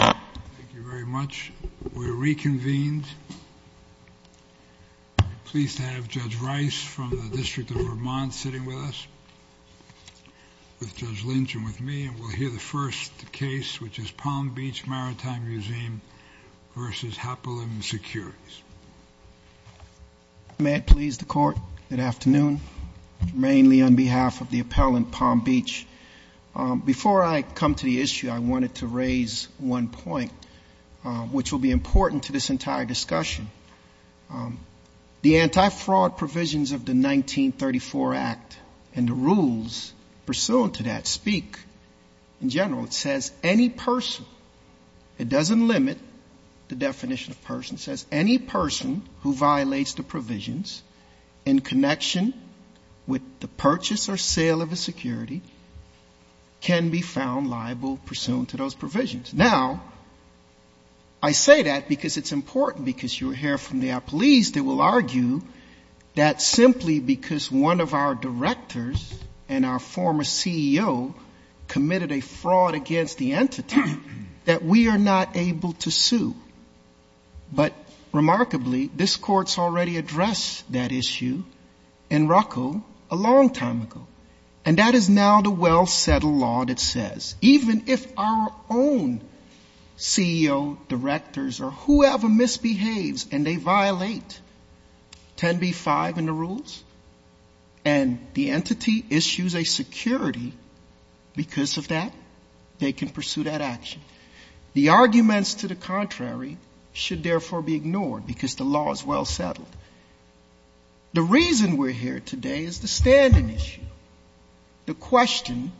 Thank you very much. We're reconvened. I'm pleased to have Judge Rice from the District of Vermont sitting with us, with Judge Lynch and with me, and we'll hear the first case, which is Palm Beach Maritime Museum versus Hapolim Securities. May it please the Court, good afternoon. Mainly on behalf of the appellant, Palm Beach. Before I come to the issue, I wanted to raise one point, which will be important to this entire discussion. The anti-fraud provisions of the 1934 Act and the rules pursuant to that speak in general. It says any person, it doesn't limit the definition of person, it says any person who violates the provisions in connection with the purchase or sale of a security can be found liable pursuant to those provisions. Now, I say that because it's important, because you'll hear from the appellees that will argue that simply because one of our directors and our former CEO committed a fraud against the entity, that we are not able to sue. But remarkably, this Court's already addressed that issue in Ruckel a long time ago. And that is now the well-settled law that says, even if our own CEO, directors, or whoever misbehaves and they violate 10b-5 in the rules, and the entity issues a security because of that, they can pursue that action. The arguments to the contrary should therefore be ignored, because the law is well-settled. The reason we're here today is the standing issue. The question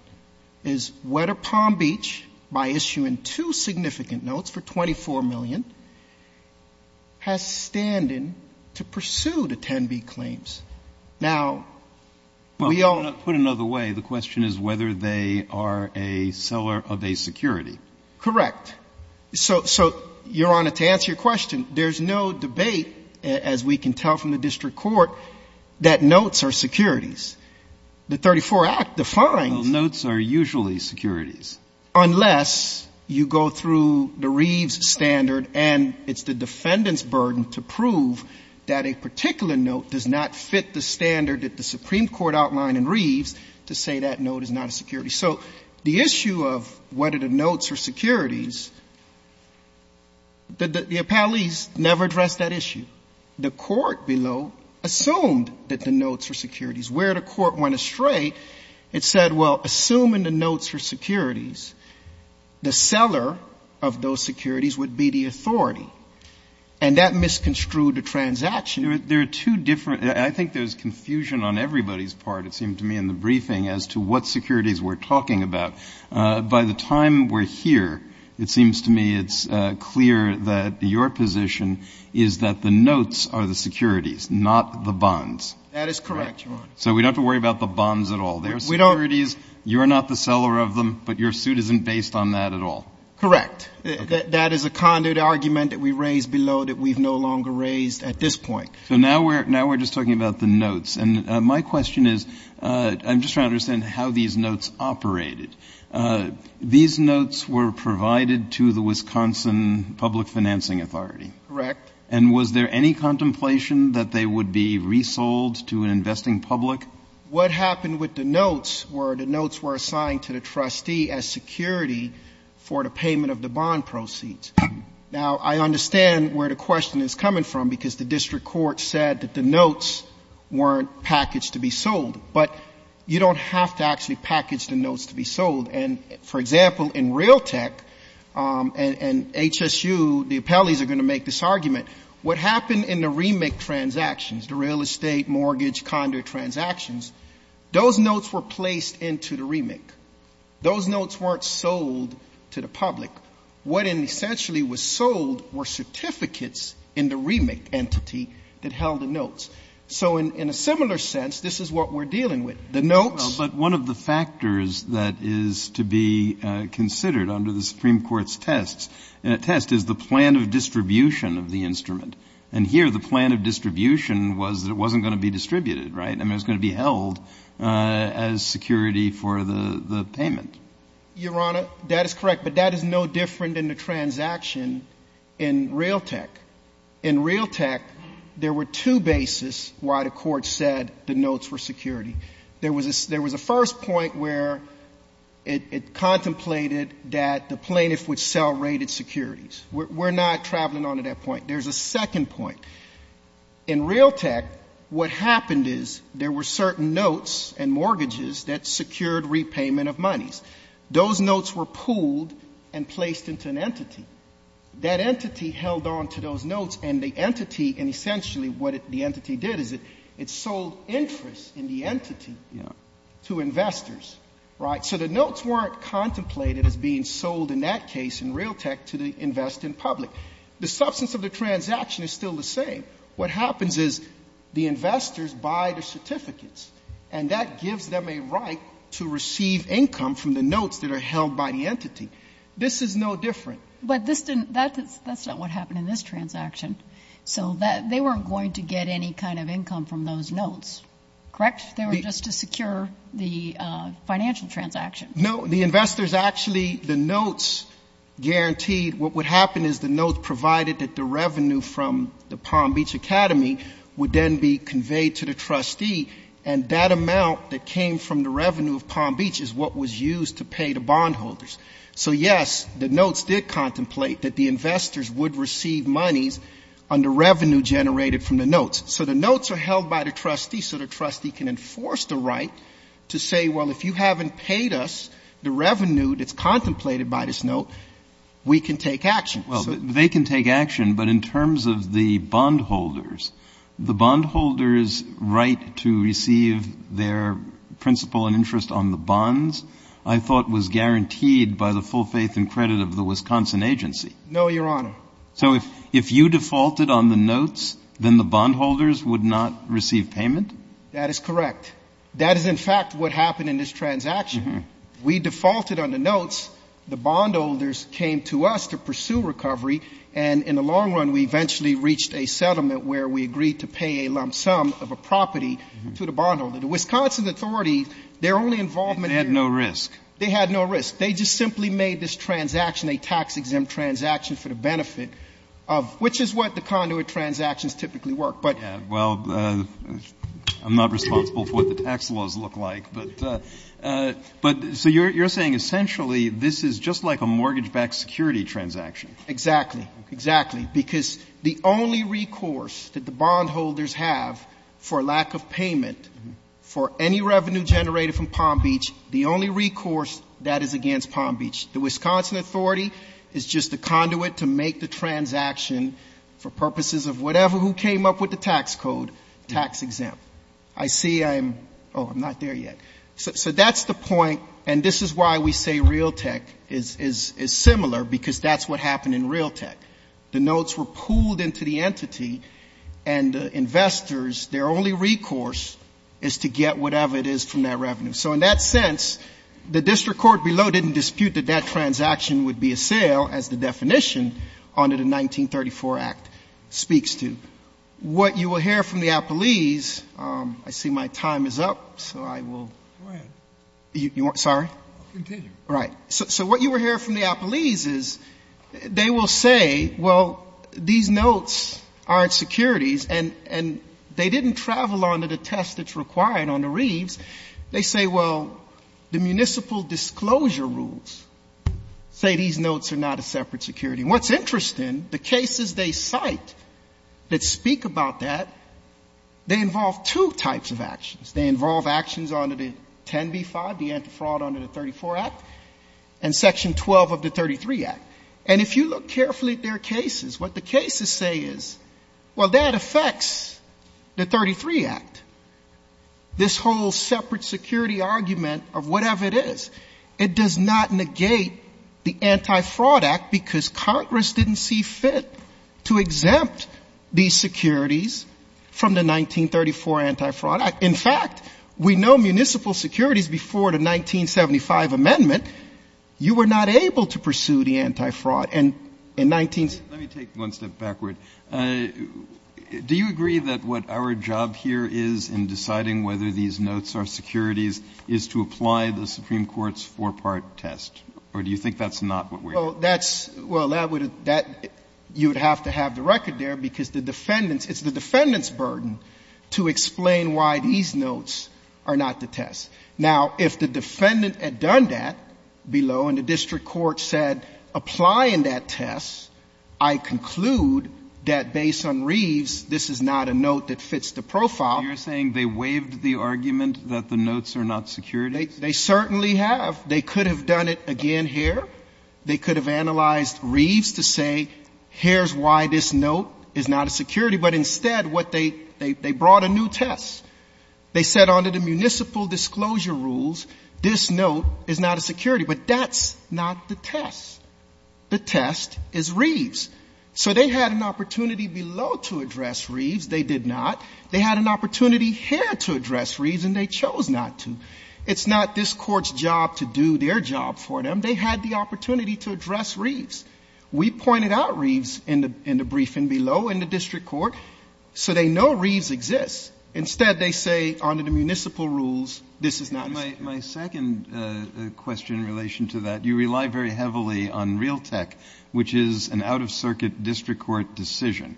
is whether Palm Beach, by issuing two significant notes for $24 million, has standing to pursue the 10b claims. Now, we all know. But put another way, the question is whether they are a seller of a security. Correct. So, Your Honor, to answer your question, there's no debate, as we can tell from the district court, that notes are securities. The 34 Act defines unless you go through the Reeves standard, and it's the defendant's burden to prove that a particular note does not fit the standard that the Supreme Court outlined in Reeves to say that note is not a security. So the issue of whether the notes are securities, the appellees never addressed that issue. The court below assumed that the notes were securities. Where the court went astray, it said, well, assuming the notes are securities, the seller of those securities would be the authority. And that misconstrued the transaction. There are two different, I think there's confusion on everybody's part, it seems to me, in the briefing as to what securities we're talking about. By the time we're here, it seems to me it's clear that your position is that the notes are the securities, not the bonds. That is correct, Your Honor. So we don't have to worry about the bonds at all. They're securities. You're not the seller of them, but your suit isn't based on that at all. Correct. That is a conduit argument that we raised below that we've no longer raised at this point. And my question is, I'm just trying to understand how these notes operated. These notes were provided to the Wisconsin Public Financing Authority. Correct. And was there any contemplation that they would be resold to an investing public? What happened with the notes were the notes were assigned to the trustee as security for the payment of the bond proceeds. Now, I understand where the question is coming from, because the district court said that the notes weren't packaged to be sold. But you don't have to actually package the notes to be sold. And, for example, in Realtek and HSU, the appellees are going to make this argument. What happened in the remake transactions, the real estate, mortgage, conduit transactions, those notes were placed into the remake. Those notes weren't sold to the public. What essentially was sold were certificates in the remake entity that held the notes. So in a similar sense, this is what we're dealing with. The notes. But one of the factors that is to be considered under the Supreme Court's test is the plan of distribution of the instrument. And here the plan of distribution was that it wasn't going to be distributed, right? I mean, it was going to be held as security for the payment. Your Honor, that is correct, but that is no different in the transaction in Realtek. In Realtek, there were two bases why the Court said the notes were security. There was a first point where it contemplated that the plaintiff would sell rated securities. We're not traveling on to that point. There's a second point. In Realtek, what happened is there were certain notes and mortgages that secured repayment of monies. Those notes were pooled and placed into an entity. That entity held on to those notes, and the entity, and essentially what the entity did is it sold interest in the entity to investors. Right? So the notes weren't contemplated as being sold in that case in Realtek to the invest in public. The substance of the transaction is still the same. What happens is the investors buy the certificates, and that gives them a right to receive income from the notes that are held by the entity. This is no different. But this didn't, that's not what happened in this transaction. So they weren't going to get any kind of income from those notes, correct? They were just to secure the financial transaction. No. The investors actually, the notes guaranteed, what would happen is the notes provided that the revenue from the Palm Beach Academy would then be conveyed to the trustee, and that amount that came from the revenue of Palm Beach is what was used to pay the bondholders. So, yes, the notes did contemplate that the investors would receive monies on the revenue generated from the notes. So the notes are held by the trustee, so the trustee can enforce the right to say, well, if you haven't paid us, that's the revenue that's contemplated by this note, we can take action. Well, they can take action. But in terms of the bondholders, the bondholders' right to receive their principal and interest on the bonds I thought was guaranteed by the full faith and credit of the Wisconsin agency. No, Your Honor. So if you defaulted on the notes, then the bondholders would not receive payment? No, Your Honor. If you defaulted on the notes, the bondholders came to us to pursue recovery, and in the long run we eventually reached a settlement where we agreed to pay a lump sum of a property to the bondholder. The Wisconsin authority, their only involvement here was... They had no risk. They had no risk. They just simply made this transaction a tax-exempt transaction for the benefit of, which is what the conduit transactions typically work, but... Well, I'm not responsible for what the tax laws look like, but so you're saying essentially this is just like a mortgage-backed security transaction. Exactly. Exactly, because the only recourse that the bondholders have for lack of payment for any revenue generated from Palm Beach, the only recourse that is against the bondholders. The Wisconsin authority is just the conduit to make the transaction for purposes of whatever, who came up with the tax code, tax-exempt. I see I'm, oh, I'm not there yet. So that's the point, and this is why we say Realtek is similar, because that's what happened in Realtek. The notes were pooled into the entity, and the investors, their only recourse is to get whatever it is from that revenue. So in that sense, the district court below didn't dispute that that transaction would be a sale, as the definition under the 1934 Act speaks to. What you will hear from the Applees, I see my time is up, so I will... Go ahead. Sorry? Continue. Right. So what you will hear from the Applees is they will say, well, these notes aren't securities. And they didn't travel under the test that's required under Reeves. They say, well, the municipal disclosure rules say these notes are not a separate security. And what's interesting, the cases they cite that speak about that, they involve two types of actions. They involve actions under the 10b-5, the anti-fraud under the 34 Act, and section 12 of the 33 Act. And if you look carefully at their cases, what the cases say is, well, that affects the 33 Act. This whole separate security argument of whatever it is, it does not negate the anti-fraud Act, because Congress didn't see fit to exempt these securities from the 1934 anti-fraud Act. In fact, we know municipal securities before the 1975 amendment, you were not able to pursue the anti-fraud. Let me take one step backward. Do you agree that what our job here is in deciding whether these notes are securities is to apply the Supreme Court's four-part test? Or do you think that's not what we're doing? Well, that's, well, that would, that, you would have to have the record there, because the defendants, it's the defendants' burden to explain why these notes are not the test. Now, if the defendant had done that below and the district court said, apply in that test, I conclude that based on Reeves, this is not a note that fits the profile. You're saying they waived the argument that the notes are not securities? They certainly have. They could have done it again here. They could have analyzed Reeves to say, here's why this note is not a security. But instead, what they, they brought a new test. They said under the municipal disclosure rules, this note is not a security. But that's not the test. The test is Reeves. So they had an opportunity below to address Reeves. They did not. They had an opportunity here to address Reeves, and they chose not to. It's not this Court's job to do their job for them. They had the opportunity to address Reeves. We pointed out Reeves in the briefing below in the district court, so they know Reeves exists. Instead, they say under the municipal rules, this is not a security. My second question in relation to that, you rely very heavily on Realtek, which is an out-of-circuit district court decision.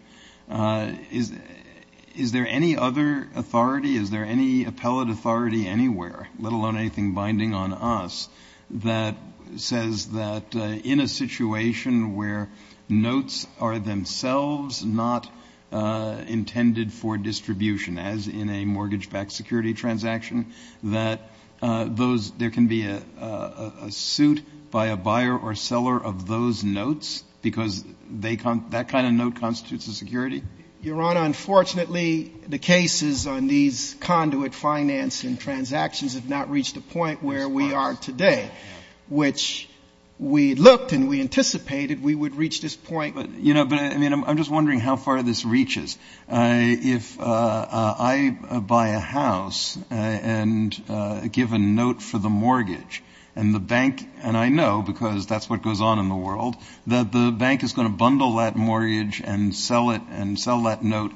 Is there any other authority, is there any appellate authority anywhere, let alone anything binding on us, that says that in a situation where notes are themselves not intended for distribution, as in a mortgage-backed security transaction, that those, there can be a suit by a buyer or seller of those notes, because that kind of note constitutes a security? Your Honor, unfortunately, the cases on these conduit finance and transactions have not reached the point where we are today, which we looked and we anticipated we would reach this point. But, you know, I mean, I'm just wondering how far this reaches. If I buy a house and give a note for the mortgage, and the bank, and I know, because that's what goes on in the world, the bank is going to bundle that mortgage and sell it and sell that note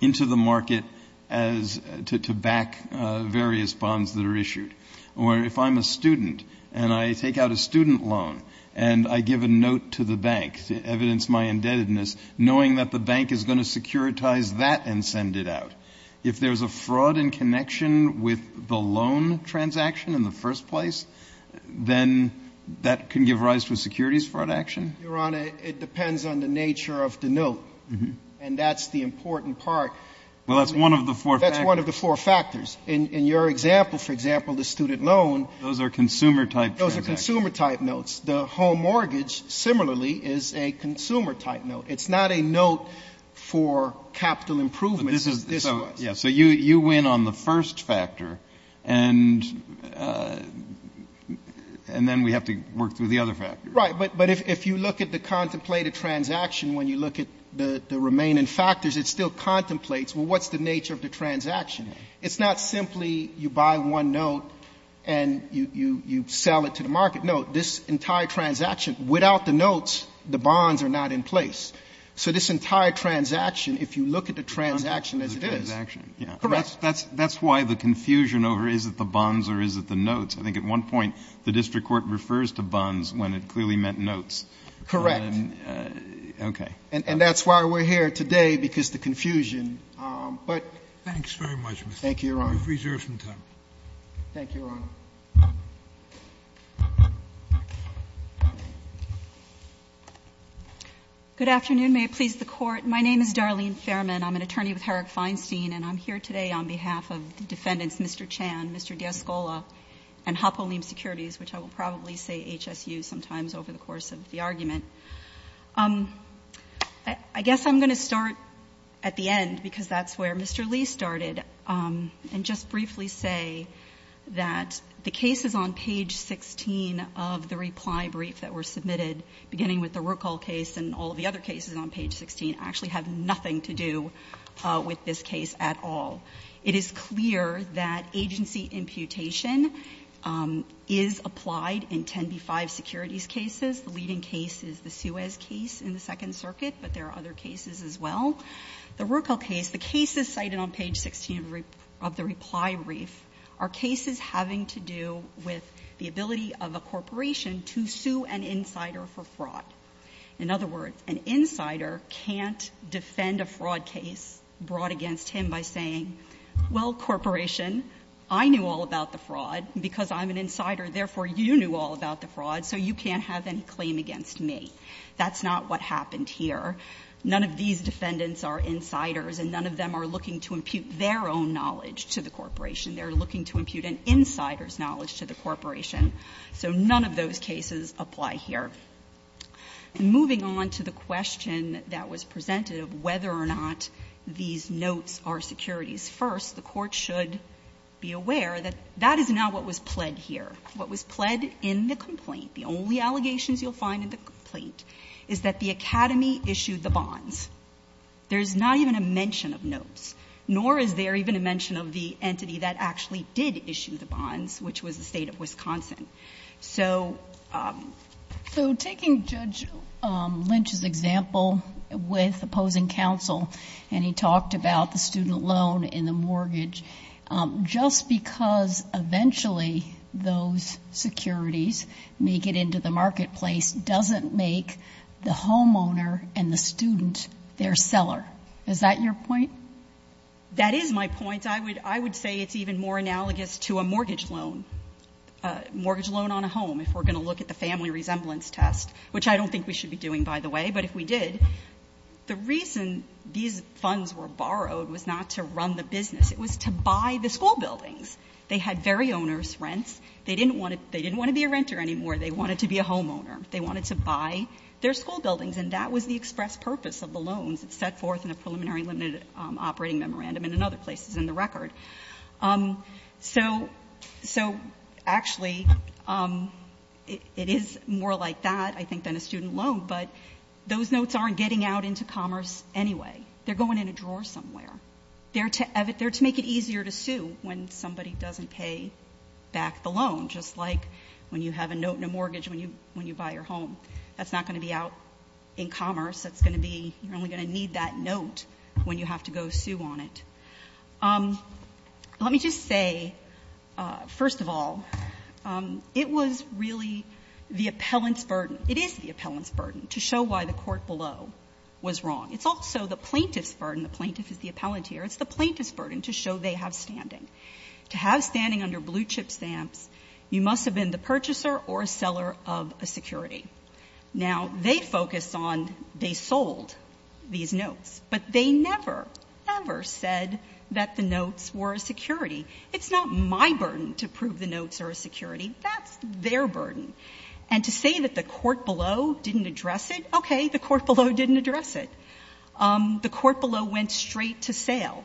into the market to back various bonds that are issued. Or if I'm a student and I take out a student loan and I give a note to the bank to evidence my indebtedness, knowing that the bank is going to securitize that and send it out, if there's a fraud in connection with the loan transaction in the first place, then that can give rise to a securities fraud action? Your Honor, it depends on the nature of the note, and that's the important part. Well, that's one of the four factors. That's one of the four factors. In your example, for example, the student loan. Those are consumer-type transactions. Those are consumer-type notes. The home mortgage, similarly, is a consumer-type note. It's not a note for capital improvements as this was. So you win on the first factor, and then we have to work through the other factors. Right, but if you look at the contemplated transaction, when you look at the remaining factors, it still contemplates, well, what's the nature of the transaction? It's not simply you buy one note and you sell it to the market. No, this entire transaction, without the notes, the bonds are not in place. So this entire transaction, if you look at the transaction as it is. The transaction, yeah. Correct. That's why the confusion over is it the bonds or is it the notes, I think at one point the district court refers to bonds when it clearly meant notes. Correct. Okay. And that's why we're here today, because the confusion. Thanks very much, Mr. Chief. Thank you, Your Honor. We have reserved some time. Thank you, Your Honor. Good afternoon. May it please the Court. My name is Darlene Fairman. I'm an attorney with Herrick Feinstein, and I'm here today on behalf of the defendants, Mr. Chan, Mr. Diascola, and Hapolim Securities, which I will probably say HSU sometimes over the course of the argument. I guess I'm going to start at the end, because that's where Mr. Lee started, and just briefly say that the cases on page 16 of the reply brief that were submitted, beginning with the Ruckel case and all of the other cases on page 16, actually have nothing to do with this case at all. It is clear that agency imputation is applied in 10b-5 securities cases. The leading case is the Suez case in the Second Circuit, but there are other cases as well. The Ruckel case, the cases cited on page 16 of the reply brief, are cases having to do with the ability of a corporation to sue an insider for fraud. In other words, an insider can't defend a fraud case brought against him by saying, well, corporation, I knew all about the fraud because I'm an insider, therefore you knew all about the fraud, so you can't have any claim against me. That's not what happened here. None of these defendants are insiders and none of them are looking to impute their own knowledge to the corporation. They're looking to impute an insider's knowledge to the corporation. So none of those cases apply here. Moving on to the question that was presented of whether or not these notes are securities first, the Court should be aware that that is not what was pled here. What was pled in the complaint, the only allegations you'll find in the complaint, is that the Academy issued the bonds. There's not even a mention of notes, nor is there even a mention of the entity that actually did issue the bonds, which was the State of Wisconsin. So taking Judge Lynch's example with opposing counsel, and he talked about the student loan and the mortgage, just because eventually those securities make it into the marketplace doesn't make the homeowner and the student their seller. Is that your point? That is my point. I would say it's even more analogous to a mortgage loan, a mortgage loan on a home, if we're going to look at the family resemblance test, which I don't think we should be doing, by the way. But if we did, the reason these funds were borrowed was not to run the business. It was to buy the school buildings. They had very onerous rents. They didn't want to be a renter anymore. They wanted to be a homeowner. They wanted to buy their school buildings. And that was the express purpose of the loans. It's set forth in the preliminary limited operating memorandum and in other places in the record. So actually, it is more like that, I think, than a student loan, but those notes aren't getting out into commerce anyway. They're going in a drawer somewhere. They're to make it easier to sue when somebody doesn't pay back the loan, just like when you have a note in a mortgage when you buy your home. That's not going to be out in commerce. It's going to be you're only going to need that note when you have to go sue on it. Let me just say, first of all, it was really the appellant's burden. It is the appellant's burden to show why the court below was wrong. It's also the plaintiff's burden. The plaintiff is the appellant here. It's the plaintiff's burden to show they have standing. To have standing under blue-chip stamps, you must have been the purchaser or seller of a security. Now, they focus on they sold these notes, but they never, ever said that the notes were a security. It's not my burden to prove the notes are a security. That's their burden. And to say that the court below didn't address it, okay, the court below didn't address it. The court below went straight to sale,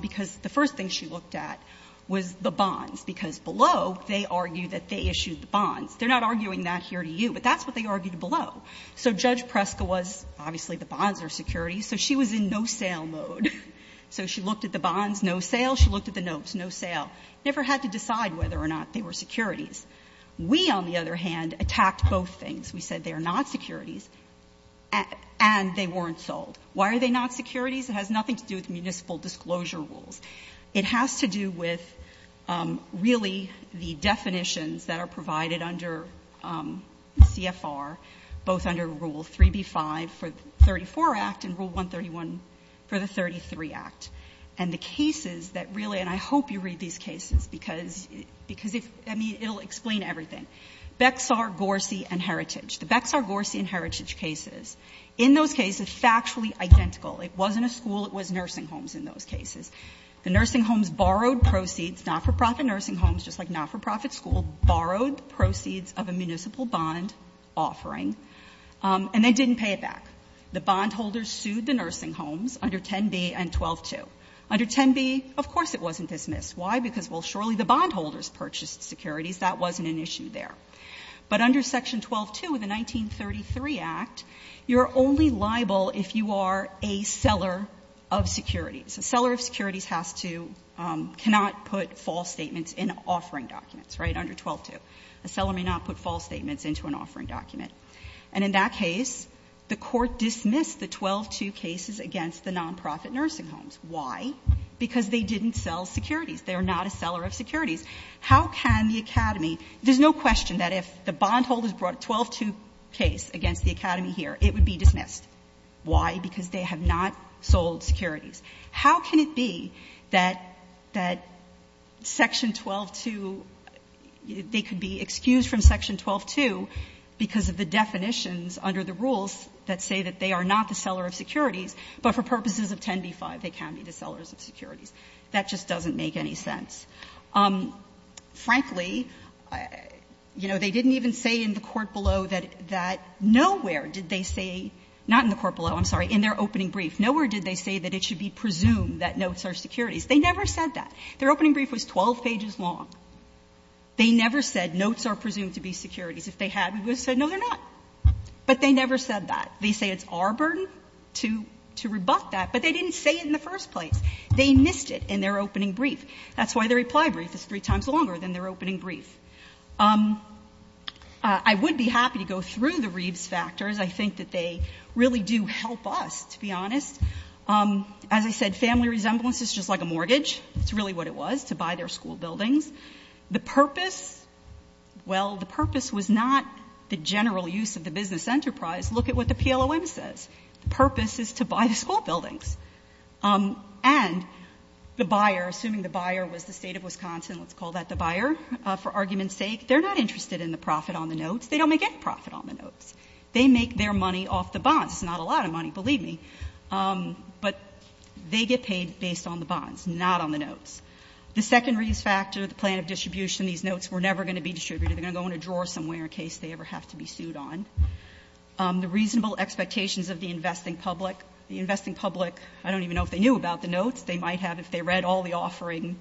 because the first thing she looked at was the bonds, because below they argued that they issued the bonds. They're not arguing that here to you, but that's what they argued below. So Judge Preska was, obviously the bonds are securities, so she was in no-sale mode. So she looked at the bonds, no sale. She looked at the notes, no sale. Never had to decide whether or not they were securities. We, on the other hand, attacked both things. We said they are not securities, and they weren't sold. Why are they not securities? It has nothing to do with municipal disclosure rules. It has to do with, really, the definitions that are provided under CFR, both under Rule 3B-5 for the 34 Act and Rule 131 for the 33 Act, and the cases that really, and I hope you read these cases, because, I mean, it will explain everything. Bexar, Gorsy, and Heritage. The Bexar, Gorsy, and Heritage cases, in those cases, factually identical. It wasn't a school. It was nursing homes in those cases. The nursing homes borrowed proceeds, not-for-profit nursing homes, just like not-for-profit schools, borrowed proceeds of a municipal bond offering, and they didn't pay it back. The bondholders sued the nursing homes under 10B and 12-2. Under 10B, of course it wasn't dismissed. Why? Because, well, surely the bondholders purchased securities. That wasn't an issue there. But under Section 12-2 of the 1933 Act, you're only liable if you are a seller of securities. A seller of securities has to, cannot put false statements in offering documents, right, under 12-2. A seller may not put false statements into an offering document. And in that case, the Court dismissed the 12-2 cases against the non-profit nursing homes. Why? Because they didn't sell securities. They are not a seller of securities. How can the Academy, there's no question that if the bondholders brought a 12-2 case against the Academy here, it would be dismissed. Why? Because they have not sold securities. How can it be that Section 12-2, they could be excused from Section 12-2 because of the definitions under the rules that say that they are not the seller of securities, but for purposes of 10B-5 they can be the sellers of securities. That just doesn't make any sense. Frankly, you know, they didn't even say in the court below that nowhere did they say, not in the court below, I'm sorry, in their opening brief, nowhere did they say that it should be presumed that notes are securities. They never said that. Their opening brief was 12 pages long. They never said notes are presumed to be securities. If they had, we would have said no, they're not. But they never said that. They say it's our burden to rebut that, but they didn't say it in the first place. They missed it in their opening brief. That's why their reply brief is three times longer than their opening brief. I would be happy to go through the Reeves factors. I think that they really do help us, to be honest. As I said, family resemblance is just like a mortgage. That's really what it was, to buy their school buildings. The purpose, well, the purpose was not the general use of the business enterprise. Look at what the PLOM says. The purpose is to buy the school buildings. And the buyer, assuming the buyer was the State of Wisconsin, let's call that the buyer, for argument's sake, they're not interested in the profit on the notes. They don't make any profit on the notes. They make their money off the bonds. It's not a lot of money, believe me. But they get paid based on the bonds, not on the notes. The second Reeves factor, the plan of distribution, these notes were never going to be distributed. They're going to go in a drawer somewhere in case they ever have to be sued on. The reasonable expectations of the investing public. The investing public, I don't even know if they knew about the notes. They might have if they read all the offering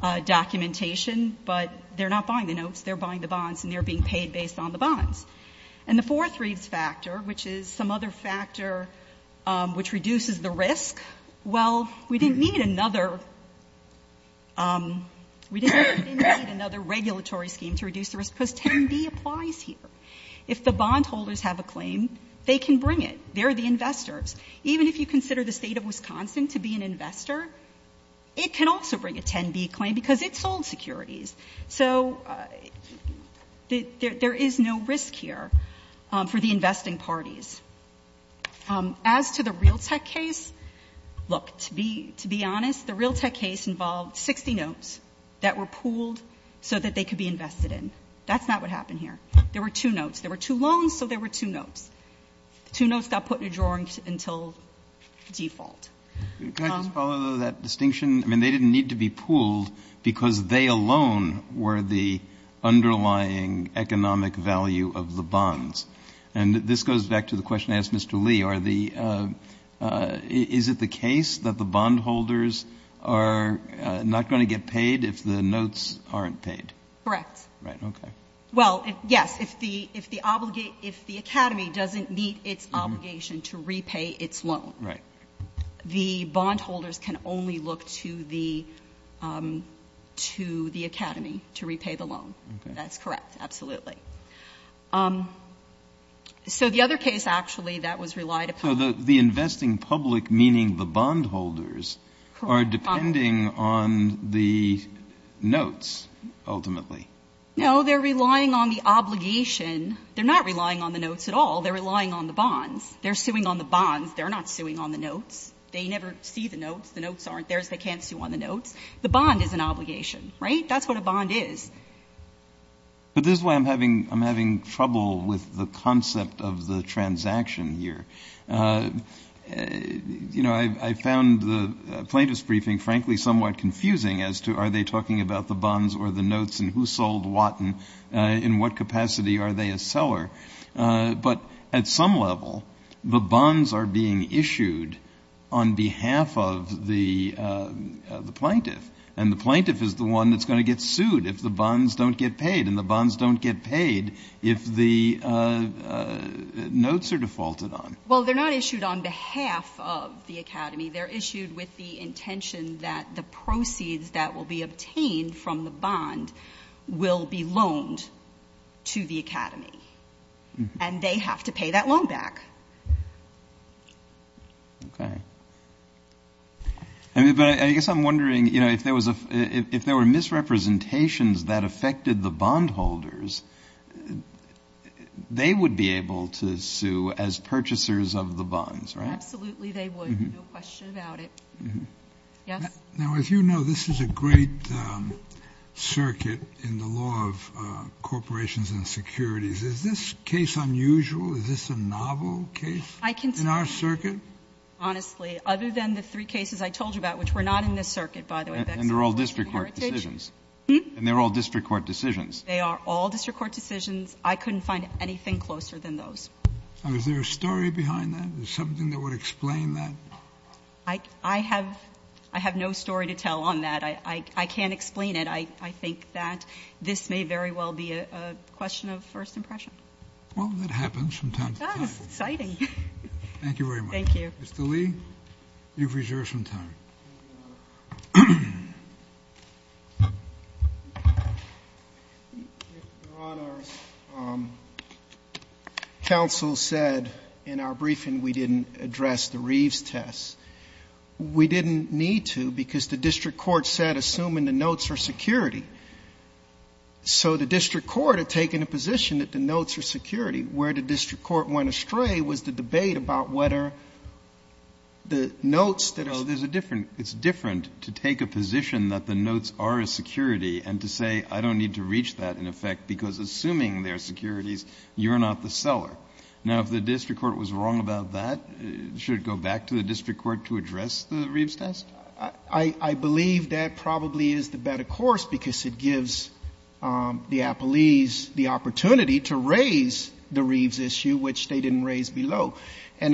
documentation. But they're not buying the notes. They're buying the bonds, and they're being paid based on the bonds. And the fourth Reeves factor, which is some other factor which reduces the risk, well, we didn't need another regulatory scheme to reduce the risk because 10B applies here. If the bondholders have a claim, they can bring it. They're the investors. Even if you consider the state of Wisconsin to be an investor, it can also bring a 10B claim because it sold securities. So there is no risk here for the investing parties. As to the Realtek case, look, to be honest, the Realtek case involved 60 notes that were pooled so that they could be invested in. That's not what happened here. There were two notes. There were two loans, so there were two notes. Two notes got put in a drawer until default. Can I just follow that distinction? I mean, they didn't need to be pooled because they alone were the underlying economic value of the bonds. And this goes back to the question I asked Mr. Lee. Is it the case that the bondholders are not going to get paid if the notes aren't paid? Correct. Right, okay. Well, yes, if the academy doesn't meet its obligation to repay its loan. Right. The bondholders can only look to the academy to repay the loan. That's correct. Absolutely. So the other case, actually, that was relied upon. So the investing public, meaning the bondholders, are depending on the notes, ultimately. No, they're relying on the obligation. They're not relying on the notes at all. They're relying on the bonds. They're suing on the bonds. They're not suing on the notes. They never see the notes. The notes aren't theirs. They can't sue on the notes. The bond is an obligation, right? That's what a bond is. But this is why I'm having trouble with the concept of the transaction here. You know, I found the plaintiff's briefing, frankly, somewhat confusing as to are they talking about the bonds or the notes and who sold what and in what capacity are they a seller. But at some level, the bonds are being issued on behalf of the plaintiff, and the plaintiff is the one that's going to get sued if the bonds don't get paid, and the bonds don't get paid if the notes are defaulted on. Well, they're not issued on behalf of the academy. They're issued with the intention that the proceeds that will be obtained from the bond will be loaned to the academy, and they have to pay that loan back. Okay. But I guess I'm wondering, you know, if there were misrepresentations that affected the bondholders, they would be able to sue as purchasers of the bonds, right? Absolutely they would. No question about it. Yes? Now, as you know, this is a great circuit in the law of corporations and securities. Is this case unusual? Is this a novel case in our circuit? Honestly, other than the three cases I told you about, which were not in this circuit, by the way. And they're all district court decisions. And they're all district court decisions. They are all district court decisions. I couldn't find anything closer than those. Is there a story behind that? Is there something that would explain that? I have no story to tell on that. I can't explain it. I think that this may very well be a question of first impression. Well, that happens from time to time. It does. Thank you very much. Thank you. Mr. Lee, you've reserved some time. Your Honor, counsel said in our briefing we didn't address the Reeves tests. We didn't need to because the district court said, assuming the notes are security. So the district court had taken a position that the notes are security. Where the district court went astray was the debate about whether the notes that are security. No, it's different to take a position that the notes are a security and to say I don't need to reach that, in effect, because assuming they're securities, you're not the seller. Now, if the district court was wrong about that, should it go back to the district court to address the Reeves test? I believe that probably is the better course because it gives the appellees the opportunity to raise the Reeves issue, which they didn't raise below. Are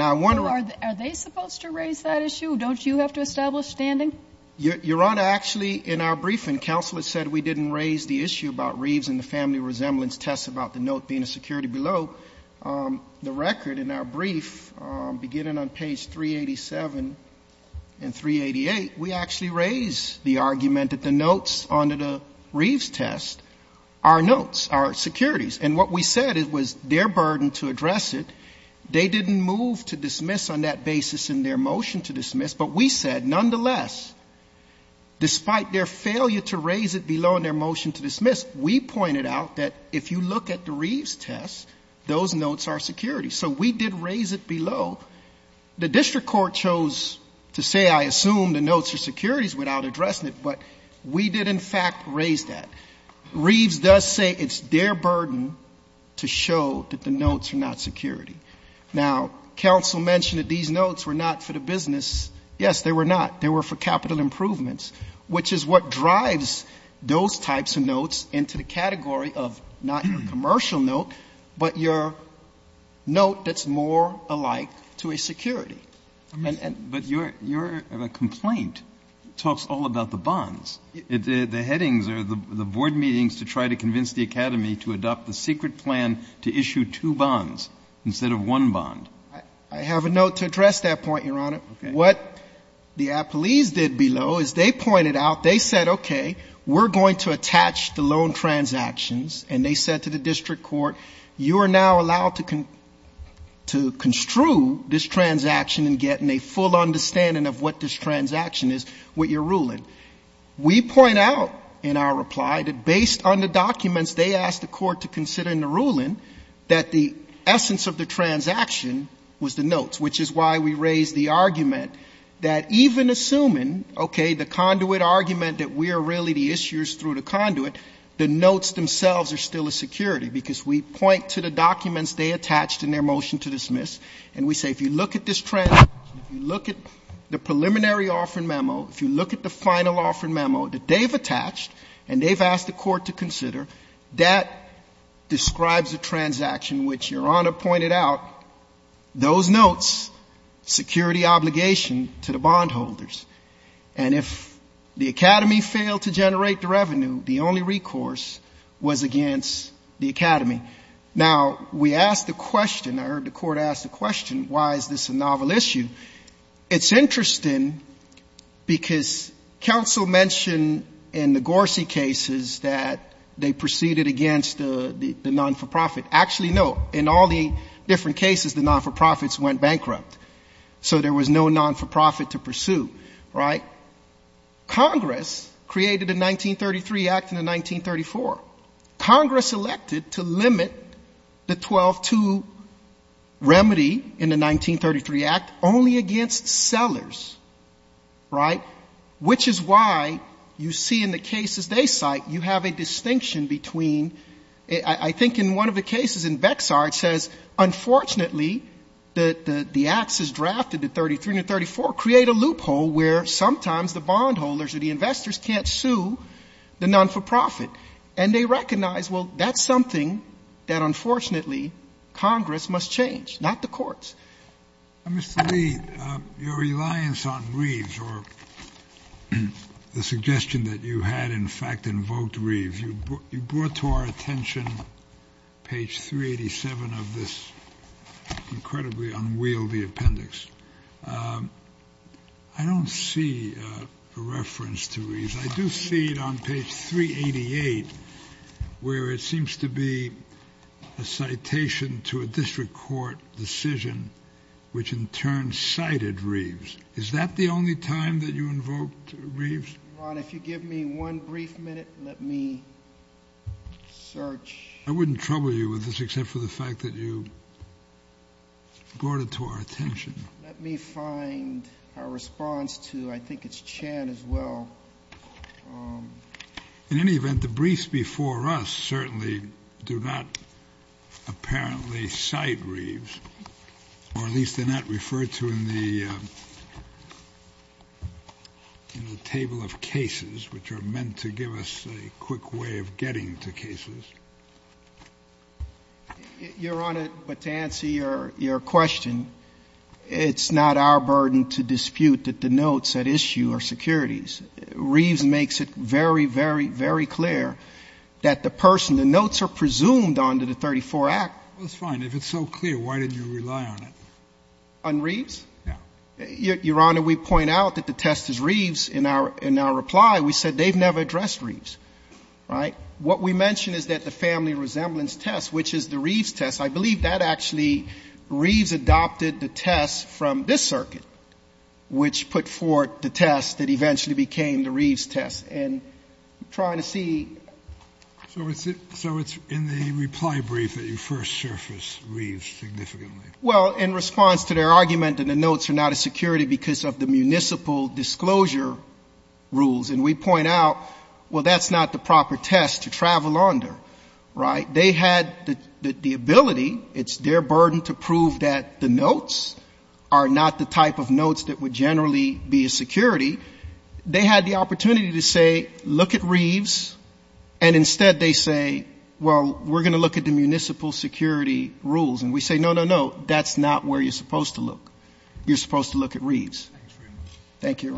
they supposed to raise that issue? Don't you have to establish standing? Your Honor, actually, in our briefing, counsel has said we didn't raise the issue about Reeves and the family resemblance test about the note being a security below. The record in our brief, beginning on page 387 and 388, we actually raise the argument that the notes under the Reeves test are notes, are securities. And what we said, it was their burden to address it. They didn't move to dismiss on that basis in their motion to dismiss. But we said, nonetheless, despite their failure to raise it below in their motion to dismiss, we pointed out that if you look at the Reeves test, those notes are securities. So we did raise it below. The district court chose to say, I assume the notes are securities, without addressing it. But we did, in fact, raise that. Reeves does say it's their burden to show that the notes are not security. Now, counsel mentioned that these notes were not for the business. Yes, they were not. But what we said, it was their burden to show that the notes are not securities. Now, we said, if you look at this, these are not securities. They're not for the business. We're going to raise the issue about the note being a security below in their motion to dismiss. Which is what drives those types of notes into the category of not your commercial securities. They pointed out, they said, okay, we're going to attach the loan transactions. And they said to the district court, you are now allowed to construe this transaction and get a full understanding of what this transaction is, what you're ruling. We point out, in our reply, that based on the documents they asked the court to consider in the ruling, that the essence of the transaction was the notes. Which is why we raised the argument that even assuming, okay, the conduit argument that we are really the issuers through the conduit, the notes themselves are still a security, because we point to the documents they attached in their motion to dismiss. And we say, if you look at this transaction, if you look at the preliminary offering memo, if you look at the final offering memo that they've attached and they've asked the court to consider, that describes a transaction which Your owes security obligation to the bondholders. And if the academy failed to generate the revenue, the only recourse was against the academy. Now, we asked the question, I heard the court ask the question, why is this a novel issue? It's interesting, because counsel mentioned in the Gorsy cases that they proceeded against the non-for-profit. Actually, no. In all the different cases, the non-for-profits went bankrupt. So there was no non-for-profit to pursue. Right? Congress created the 1933 Act and the 1934. Congress elected to limit the 12-2 remedy in the 1933 Act only against sellers. Right? Which is why you see in the cases they cite, you have a distinction between, I think in one of the cases in Bexar, it says, unfortunately, that the acts as drafted in 1933 and 1934 create a loophole where sometimes the bondholders or the investors can't sue the non-for-profit. And they recognize, well, that's something that, unfortunately, Congress must change, not the courts. Mr. Lee, your reliance on Reeves or the suggestion that you had, in fact, invoked Reeves, you brought to our attention page 387 of this incredibly unwieldy appendix. I don't see a reference to Reeves. I do see it on page 388, where it seems to be a citation to a district court decision, which in turn cited Reeves. Is that the only time that you invoked Reeves? Ron, if you give me one brief minute, let me search. I wouldn't trouble you with this except for the fact that you brought it to our attention. Let me find a response to, I think it's Chan as well. In any event, the briefs before us certainly do not apparently cite Reeves, or at least they're not referred to in the table of cases, which are meant to give us a quick way of getting to cases. Your Honor, but to answer your question, it's not our burden to dispute that the notes at issue are securities. Reeves makes it very, very, very clear that the person, the notes are securities. So we can't rely on it. On Reeves? No. Your Honor, we point out that the test is Reeves. In our reply, we said they've never addressed Reeves. Right? What we mention is that the family resemblance test, which is the Reeves test, I believe that actually Reeves adopted the test from this circuit, which put forth the test that eventually became the Reeves test. And I'm trying to see. So it's in the reply brief that you first surface Reeves significantly. Well, in response to their argument that the notes are not a security because of the municipal disclosure rules. And we point out, well, that's not the proper test to travel under. Right? They had the ability, it's their burden to prove that the notes are not the type of notes that would generally be a security. They had the opportunity to say, look at Reeves, and instead they say, well, we're going to look at the municipal security rules. And we say, no, no, no, that's not where you're supposed to look. You're supposed to look at Reeves. Thank you.